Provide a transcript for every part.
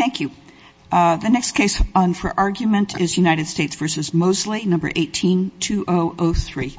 18-2003.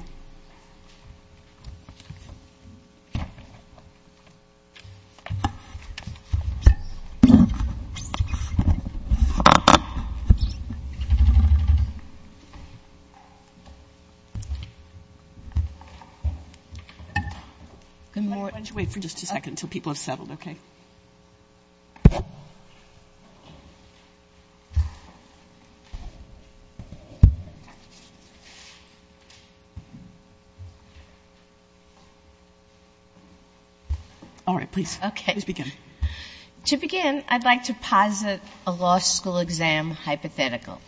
To begin, I'd like to posit a law school exam hypothetical.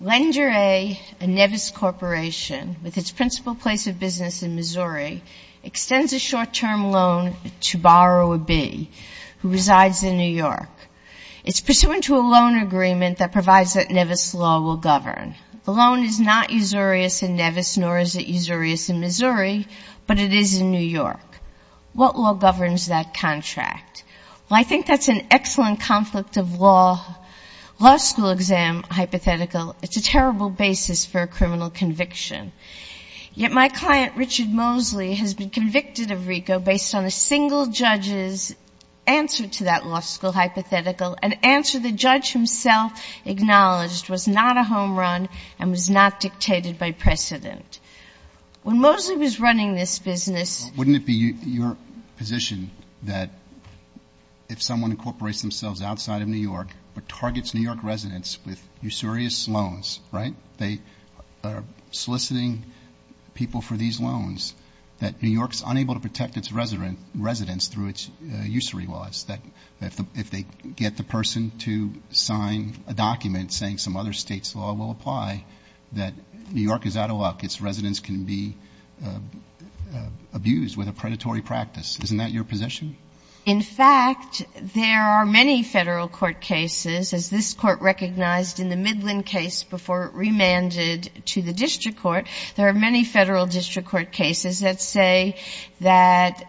Lender A, a Nevis corporation with its principal place of business in Missouri, extends a short-term loan to borrow a B who resides in New York. It's pursuant to a loan agreement that provides that Nevis law will govern. The loan is not usurious in Nevis, nor is it usurious in Missouri, but it is in New York. What law governs that contract? Well, I think that's an excellent conflict of law. Law school exam hypothetical, it's a terrible basis for a criminal conviction. Yet my client, Richard Mosley, has been convicted of RICO based on a single judge's answer to that law school hypothetical, an answer the judge himself acknowledged was not a home run and was not dictated by precedent. When Mosley was running this business... In fact, there are many Federal Courts of Appeals in New York cases, as this Court recognized in the Midland case before it remanded to the District Court. There are many Federal District Court cases that say that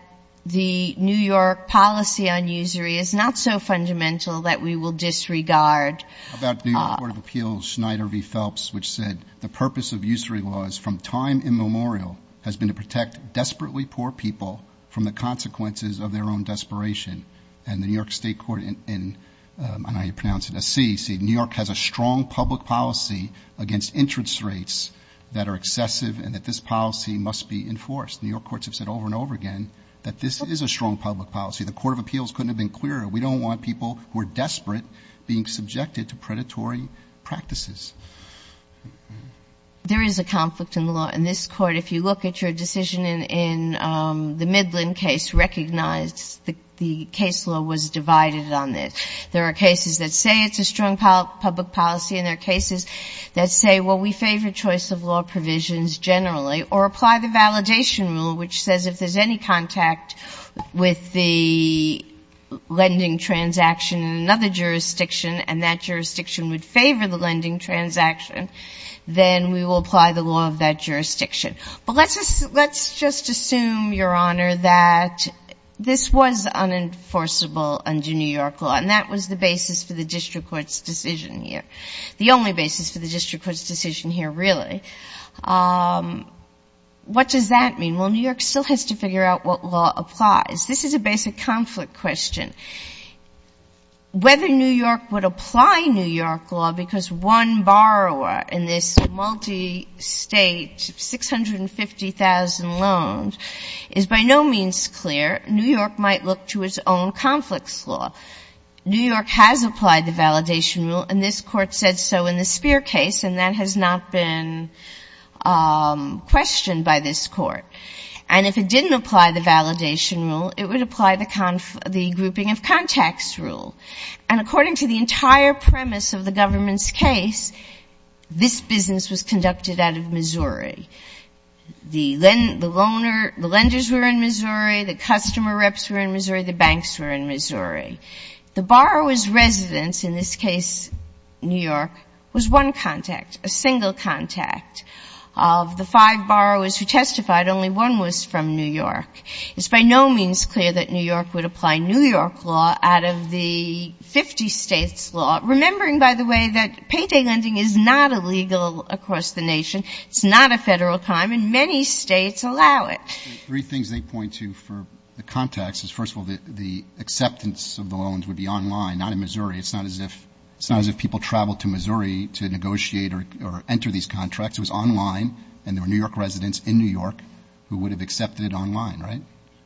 the New York policy on usury is not so fundamental that we will disregard... About the New York Court of Appeals, Schneider v. Phelps, which said, the purpose of usury laws from time immemorial has been to protect desperately poor people from the consequences of their own desperation. And the New York State Court in, I don't know how you pronounce it, a C, said New York has a strong public policy against interest rates that are excessive and that this policy must be enforced. New York courts have said over and over again that this is a strong public policy. The Court of Appeals couldn't have been clearer. We don't want people who are desperate being subjected to predatory practices. There is a conflict in the law. In this Court, if you look at your decision in the Midland case, recognize the case law was divided on this. There are cases that say it's a strong public policy and there are cases that say, well, we favor choice of law provisions generally or apply the validation rule, which says if there's any contact with the lending transaction in another jurisdiction and that jurisdiction would favor the lending transaction, then we will apply the law of that jurisdiction. But let's just assume, Your Honor, that this was unenforceable under New York law and that was the basis for the district court's decision here. The only basis for the district court's decision here, really. What does that mean? Well, New York still has to figure out what law applies. This is a basic conflict question. Whether New York would apply New York law, because one borrower in this multi-state, 650,000 loans, is by no means clear. New York might look to its own conflicts law. New York has applied the validation rule and this Court said so in the Spear case and that has not been questioned by this Court. And if it didn't apply the validation rule, it would apply the grouping of contacts rule. And according to the entire premise of the government's case, this business was conducted out of Missouri. The lenders were in Missouri, the customer reps were in Missouri, the banks were in Missouri. The borrower's residence, in this case New York, was one contact, a single contact. Of the five borrowers who testified, only one was from New York. It's by no means clear that New York would apply New York law out of the 50 states law. Remembering, by the way, that payday lending is not illegal across the nation. It's not a federal crime and many states allow it. Three things they point to for the contacts is, first of all, the acceptance of the loans would be online, not in Missouri. It's not as if people traveled to Missouri to negotiate or enter these contracts. It was online and there were New York residents in New York who would have accepted it online, right?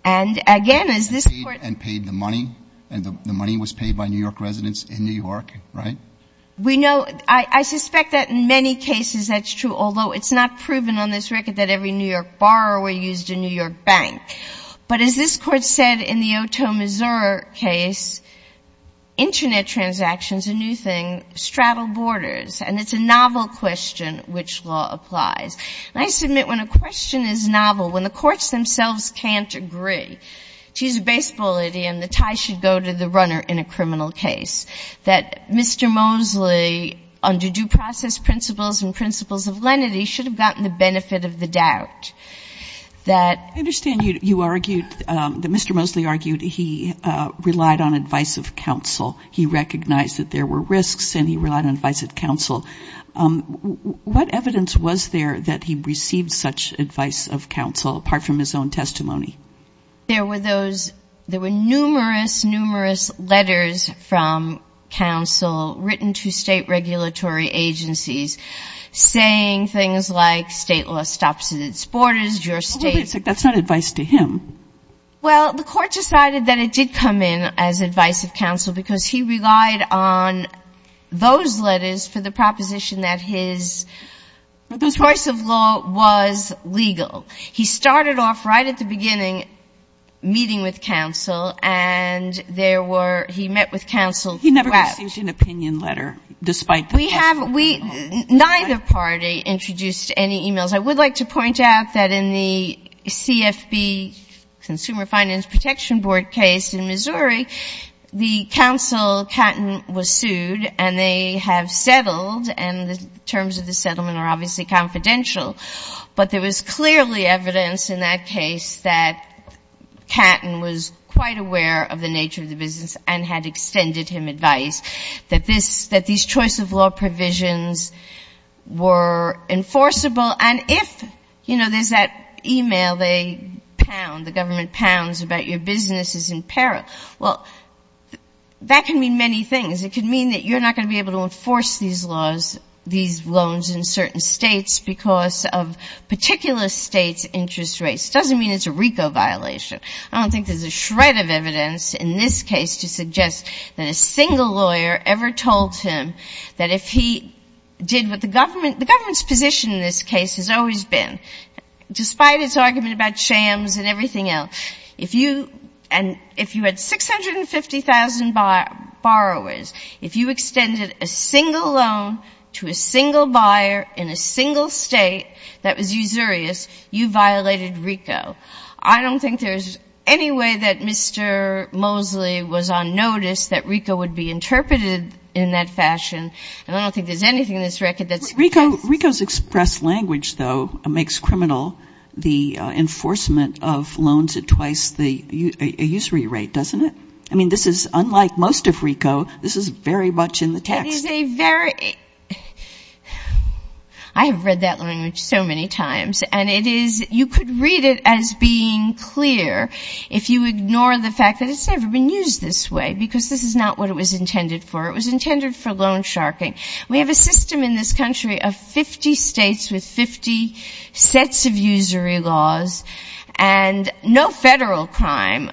And again, as this Court — And paid the money. And the money was paid by New York residents in New York, right? We know — I suspect that in many cases that's true, although it's not proven on this record that every New York borrower used a New York bank. But as this Court said in the Otoe, Missouri case, Internet transactions, a new thing, straddle borders. And it's a novel question which law applies. And I submit when a question is novel, when the courts themselves can't agree, to use a baseball idiom, the tie should go to the runner in a criminal case. That Mr. Mosley, under due process principles and principles of lenity, should have gotten the benefit of the doubt. That — I understand you argued — that Mr. Mosley argued he relied on advice of counsel. He recognized that there were risks, and he relied on advice of counsel. What evidence was there that he received such advice of counsel, apart from his own testimony? There were those — there were numerous, numerous letters from counsel written to state regulatory agencies saying things like, state law stops at its borders. Your state — But that's not advice to him. Well, the Court decided that it did come in as advice of counsel, because he relied on those letters for the proposition that his choice of law was legal. He started off right at the beginning meeting with counsel, and there were — he met with counsel — He never received an opinion letter, despite the — We have — neither party introduced any e-mails. I would like to point out that in the CFB — Consumer Finance Protection Board case in Missouri, the counsel, Catton, was sued, and they have settled, and the terms of the settlement are obviously confidential. But there was clearly evidence in that case that Catton was quite aware of the nature of the business and had extended him advice, that this — that these choice of law provisions were enforceable. And if, you know, there's that e-mail they pound, the government pounds about your business is in peril, well, that can mean many things. It could mean that you're not going to be able to enforce these laws, these loans in certain states because of particular states' interest rates. It doesn't mean it's a RICO violation. I don't think there's a shred of evidence in this case to suggest that a single lawyer ever told him that if he did what the government — the government's position in this case has always been, despite its argument about shams and everything else, if you — and if you had 650,000 borrowers, if you extended a single loan to a single buyer in a single state that was usurious, you violated RICO. I don't think there's any way that Mr. Mosley was on notice that RICO would be interpreted in that fashion. And I don't think there's anything in this record that's — RICO's express language, though, makes criminal the enforcement of loans at twice the — a usury rate, doesn't it? I mean, this is — unlike most of RICO, this is very much in the text. It is a very — I have read that language so many times. And it is — you could read it as being clear if you ignore the fact that it's never been used this way, because this is not what it was intended for. It was intended for loan sharking. We have a system in this country of 50 states with 50 sets of usury laws, and no federal crime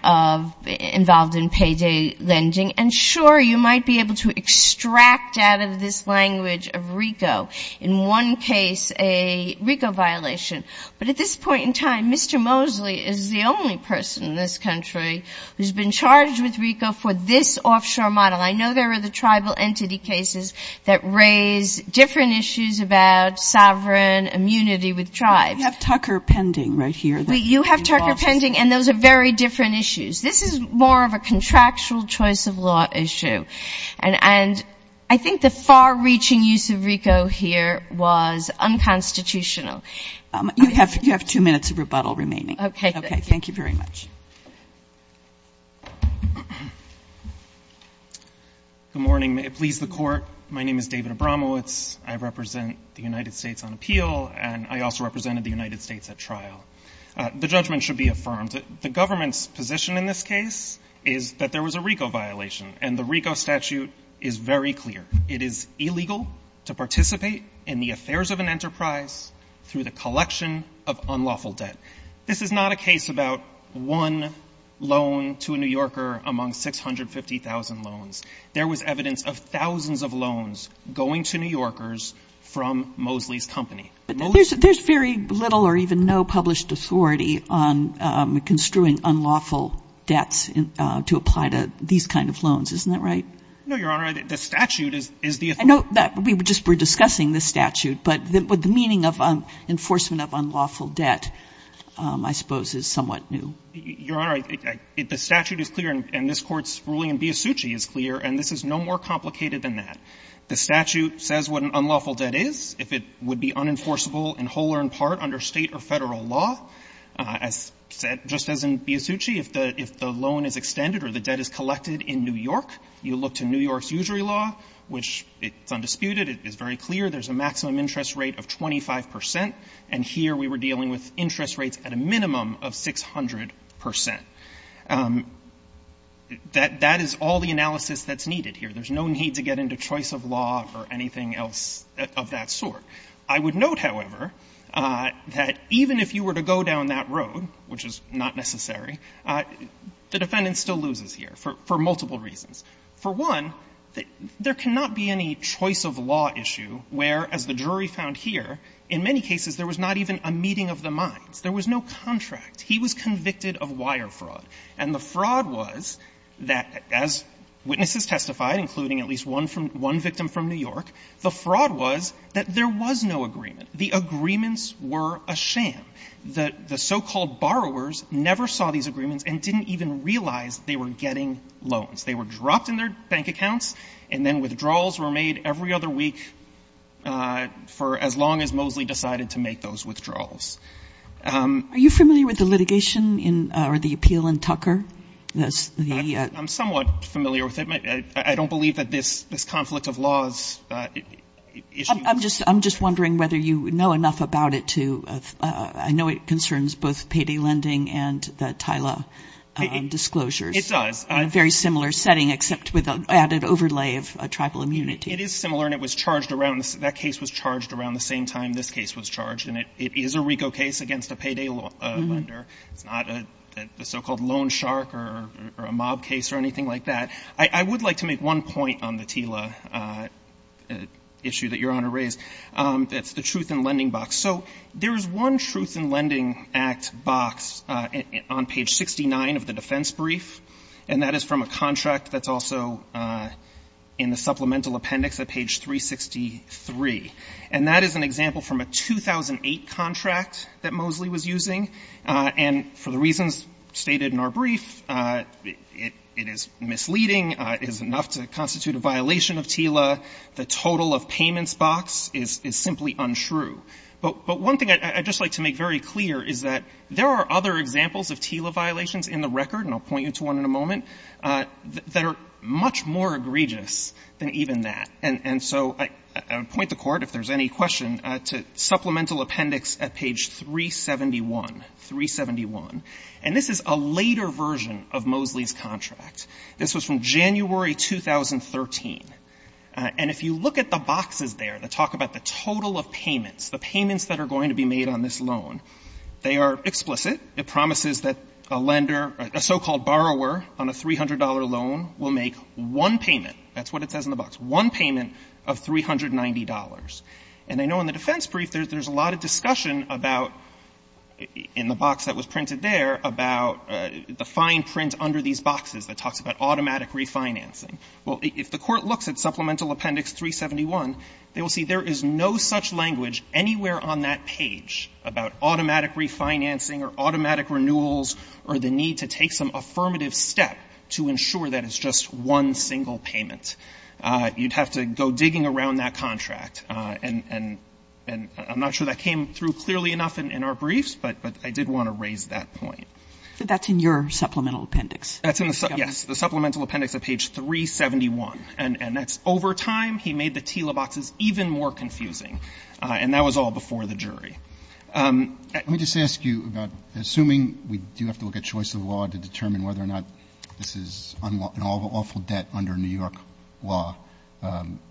involved in payday lending. And sure, you might be able to extract out of this language of RICO, in one case, a RICO violation. But at this point in time, Mr. Mosley is the only person in this country who's been charged with RICO for this offshore model. I know there are the tribal entity cases that raise different issues about sovereign immunity with tribes. We have Tucker pending right here. You have Tucker pending, and those are very different issues. This is more of a contractual choice of law issue. And I think the far-reaching use of RICO here was unconstitutional. You have two minutes of rebuttal remaining. Okay. Okay. Thank you very much. Good morning. Please, the Court. My name is David Abramowitz. I represent the United States on appeal, and I also represented the United States at trial. The judgment should be affirmed. The government's position in this case is that there was a RICO violation, and the RICO statute is very clear. It is illegal to participate in the affairs of an enterprise through the collection of unlawful debt. This is not a case about one loan to a New Yorker among 650,000 loans. There was evidence of thousands of loans going to New Yorkers from Moseley's company. But there's very little or even no published authority on construing unlawful debts to apply to these kind of loans. Isn't that right? No, Your Honor. The statute is the authority. I know that we were just discussing the statute, but with the meaning of enforcement of unlawful debt, I suppose, is somewhat new. Your Honor, the statute is clear, and this Court's ruling in Biasucci is clear, and this is no more complicated than that. The statute says what an unlawful debt is, if it would be unenforceable in whole or in part under State or Federal law. As said, just as in Biasucci, if the loan is extended or the debt is collected in New York, you look to New York's usury law, which it's undisputed, it is very low, about 25 percent. And here, we were dealing with interest rates at a minimum of 600 percent. That is all the analysis that's needed here. There's no need to get into choice of law or anything else of that sort. I would note, however, that even if you were to go down that road, which is not necessary, the defendant still loses here for multiple reasons. For one, there cannot be any choice of law issue where, as the jury found here, in many cases, there was not even a meeting of the minds. There was no contract. He was convicted of wire fraud. And the fraud was that, as witnesses testified, including at least one victim from New York, the fraud was that there was no agreement. The agreements were a sham. The so-called borrowers never saw these agreements and didn't even realize they were getting loans. They were dropped in their bank accounts, and then withdrawals were made every other week, for as long as Moseley decided to make those withdrawals. Are you familiar with the litigation or the appeal in Tucker? I'm somewhat familiar with it. I don't believe that this conflict of laws issue. I'm just wondering whether you know enough about it to – I know it concerns both payday lending and the TILA disclosures. It does. In a very similar setting, except with an added overlay of tribal immunity. It is similar, and it was charged around – that case was charged around the same time this case was charged. And it is a RICO case against a payday lender. It's not a so-called loan shark or a mob case or anything like that. I would like to make one point on the TILA issue that Your Honor raised. It's the truth in lending box. So there is one truth in lending act box on page 69 of the defense brief, and that is from a contract that's also in the supplemental appendix at page 363. And that is an example from a 2008 contract that Moseley was using. And for the reasons stated in our brief, it is misleading. It is enough to constitute a violation of TILA. The total of payments box is simply untrue. But one thing I'd just like to make very clear is that there are other examples of TILA violations in the record, and I'll point you to one in a moment, that are much more egregious than even that. And so I point the Court, if there's any question, to supplemental appendix at page 371, 371. And this is a later version of Moseley's contract. This was from January 2013. And if you look at the boxes there that talk about the total of payments, the payments that are going to be made on this loan, they are explicit. It promises that a lender, a so-called borrower on a $300 loan will make one payment that's what it says in the box, one payment of $390. And I know in the defense brief there's a lot of discussion about, in the box that was printed there, about the fine print under these boxes that talks about automatic refinancing. Well, if the Court looks at supplemental appendix 371, they will see there is no such language anywhere on that page about automatic refinancing or automatic renewals or the need to take some affirmative step to ensure that it's just one single payment. You'd have to go digging around that contract. And I'm not sure that came through clearly enough in our briefs, but I did want to raise that point. But that's in your supplemental appendix. That's in the supplemental appendix at page 371. And that's over time. He made the point, and that was all before the jury. Roberts. Let me just ask you about, assuming we do have to look at choice of law to determine whether or not this is an awful debt under New York law,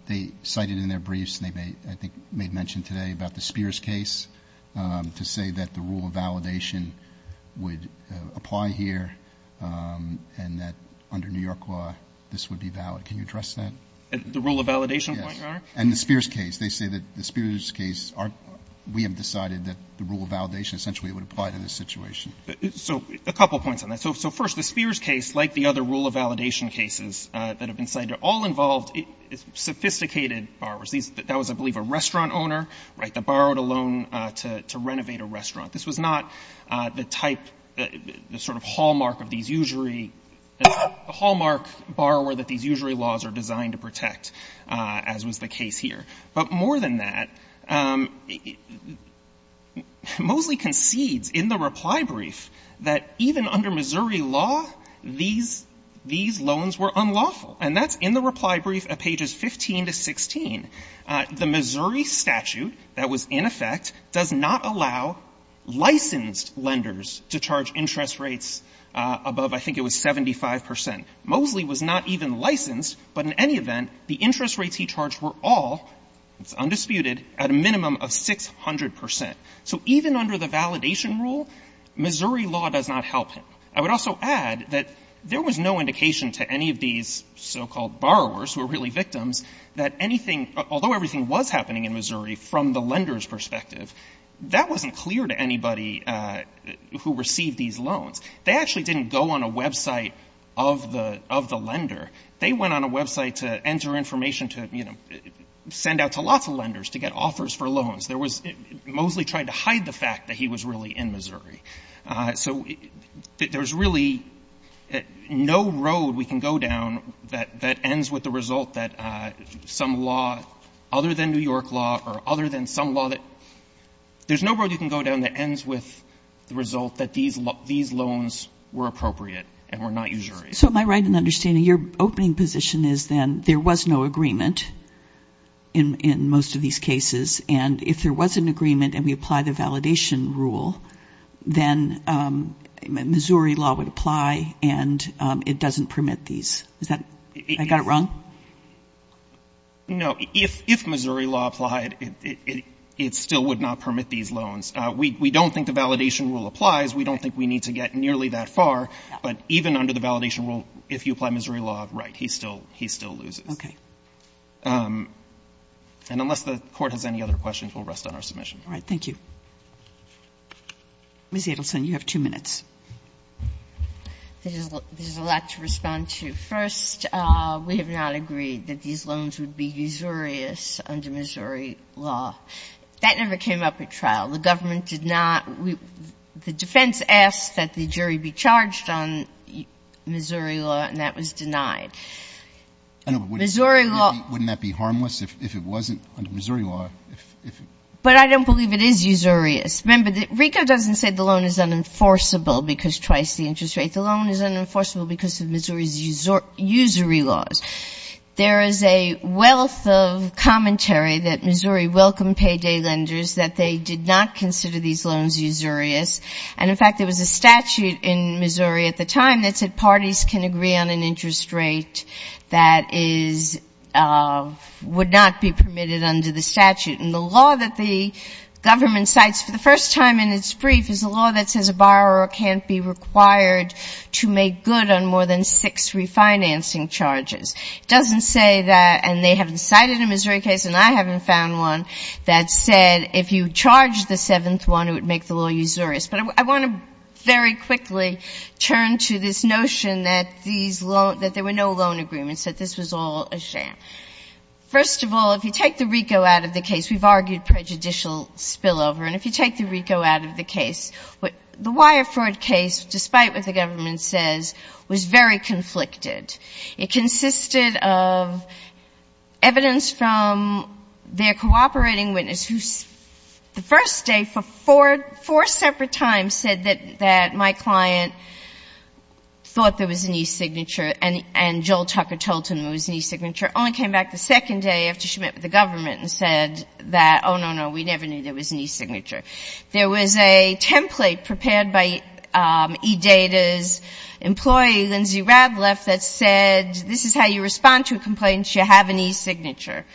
they cited in their briefs, and they made, I think, made mention today about the Spears case to say that the rule of validation would apply here and that under New York law this would be valid. Can you address that? The rule of validation point, Your Honor? Yes. And the Spears case, they say that the Spears case are we have decided that the rule of validation essentially would apply to this situation. So a couple points on that. So first, the Spears case, like the other rule of validation cases that have been cited, all involved sophisticated borrowers. That was, I believe, a restaurant owner, right, that borrowed a loan to renovate a restaurant. This was not the type, the sort of hallmark of these usury, the hallmark borrower that these usury laws are designed to protect, as was the case here. But more than that, Moseley concedes in the reply brief that even under Missouri law, these loans were unlawful. And that's in the reply brief at pages 15 to 16. The Missouri statute that was in effect does not allow licensed lenders to charge interest rates above, I think it was, 75 percent. Moseley was not even allowed to charge interest rates. He was not even licensed. But in any event, the interest rates he charged were all, it's undisputed, at a minimum of 600 percent. So even under the validation rule, Missouri law does not help him. I would also add that there was no indication to any of these so-called borrowers, who are really victims, that anything, although everything was happening in Missouri from the lender's perspective, that wasn't clear to anybody who received these loans. They actually didn't go on a website of the lender. They went on a website to enter information to, you know, send out to lots of lenders to get offers for loans. There was — Moseley tried to hide the fact that he was really in Missouri. So there's really no road we can go down that ends with the result that some law other than New York law or other than some law that — there's no road you can go down that ends with the result that these loans were appropriate and were not usury. So am I right in understanding your opening position is then there was no agreement in most of these cases, and if there was an agreement and we apply the validation rule, then Missouri law would apply and it doesn't permit these. Is that — I got it wrong? No. If Missouri law applied, it still would not permit these loans. We don't think the validation rule applies. We don't think we need to get nearly that far. But even under the validation rule, if you apply Missouri law, right, he still — he still loses. Okay. And unless the Court has any other questions, we'll rest on our submission. All right. Thank you. Ms. Edelson, you have two minutes. There's a lot to respond to. First, we have not agreed that these loans would be usurious under Missouri law. That never came up at trial. The government did not — the defense asked that the jury be charged on Missouri law, and that was denied. I know, but wouldn't that be harmless if it wasn't under Missouri law? But I don't believe it is usurious. Remember, the — RICO doesn't say the loan is unenforceable because twice the interest rate. The loan is unenforceable because of Missouri's usury laws. There is a wealth of commentary that Missouri welcomed payday lenders, that they did not consider these loans usurious. And, in fact, there was a statute in Missouri at the time that said parties can agree on an interest rate that is — would not be permitted under the statute. And the law that the government cites for the first time in its brief is a law that says a borrower can't be required to make good on more than six refinancing charges. It doesn't say that — and they haven't cited a Missouri case, and I haven't found one that said if you charged the seventh one, it would make the law usurious. But I want to very quickly turn to this notion that these loans — that there were no — that there was not a sham. First of all, if you take the RICO out of the case, we've argued prejudicial spillover. And if you take the RICO out of the case, the Wire fraud case, despite what the government says, was very conflicted. It consisted of evidence from their cooperating witness who, the first day for four separate times, said that my client thought there was an e-signature and Joel Tucker told him there was an e-signature, only came back the second day after she met with the government and said that, oh, no, no, we never knew there was an e-signature. There was a template prepared by eData's employee, Lindsay Radleff, that said, this is how you respond to a complaint, you have an e-signature.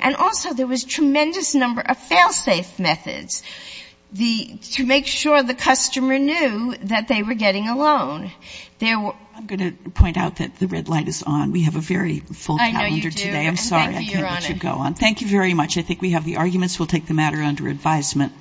And also there was tremendous number of fail-safe methods to make sure the customer knew that they were getting a loan. I'm going to point out that the red light is on. We have a very full calendar today. I'm sorry I can't let you go on. Thank you very much. I think we have the arguments. We'll take the matter under advisement.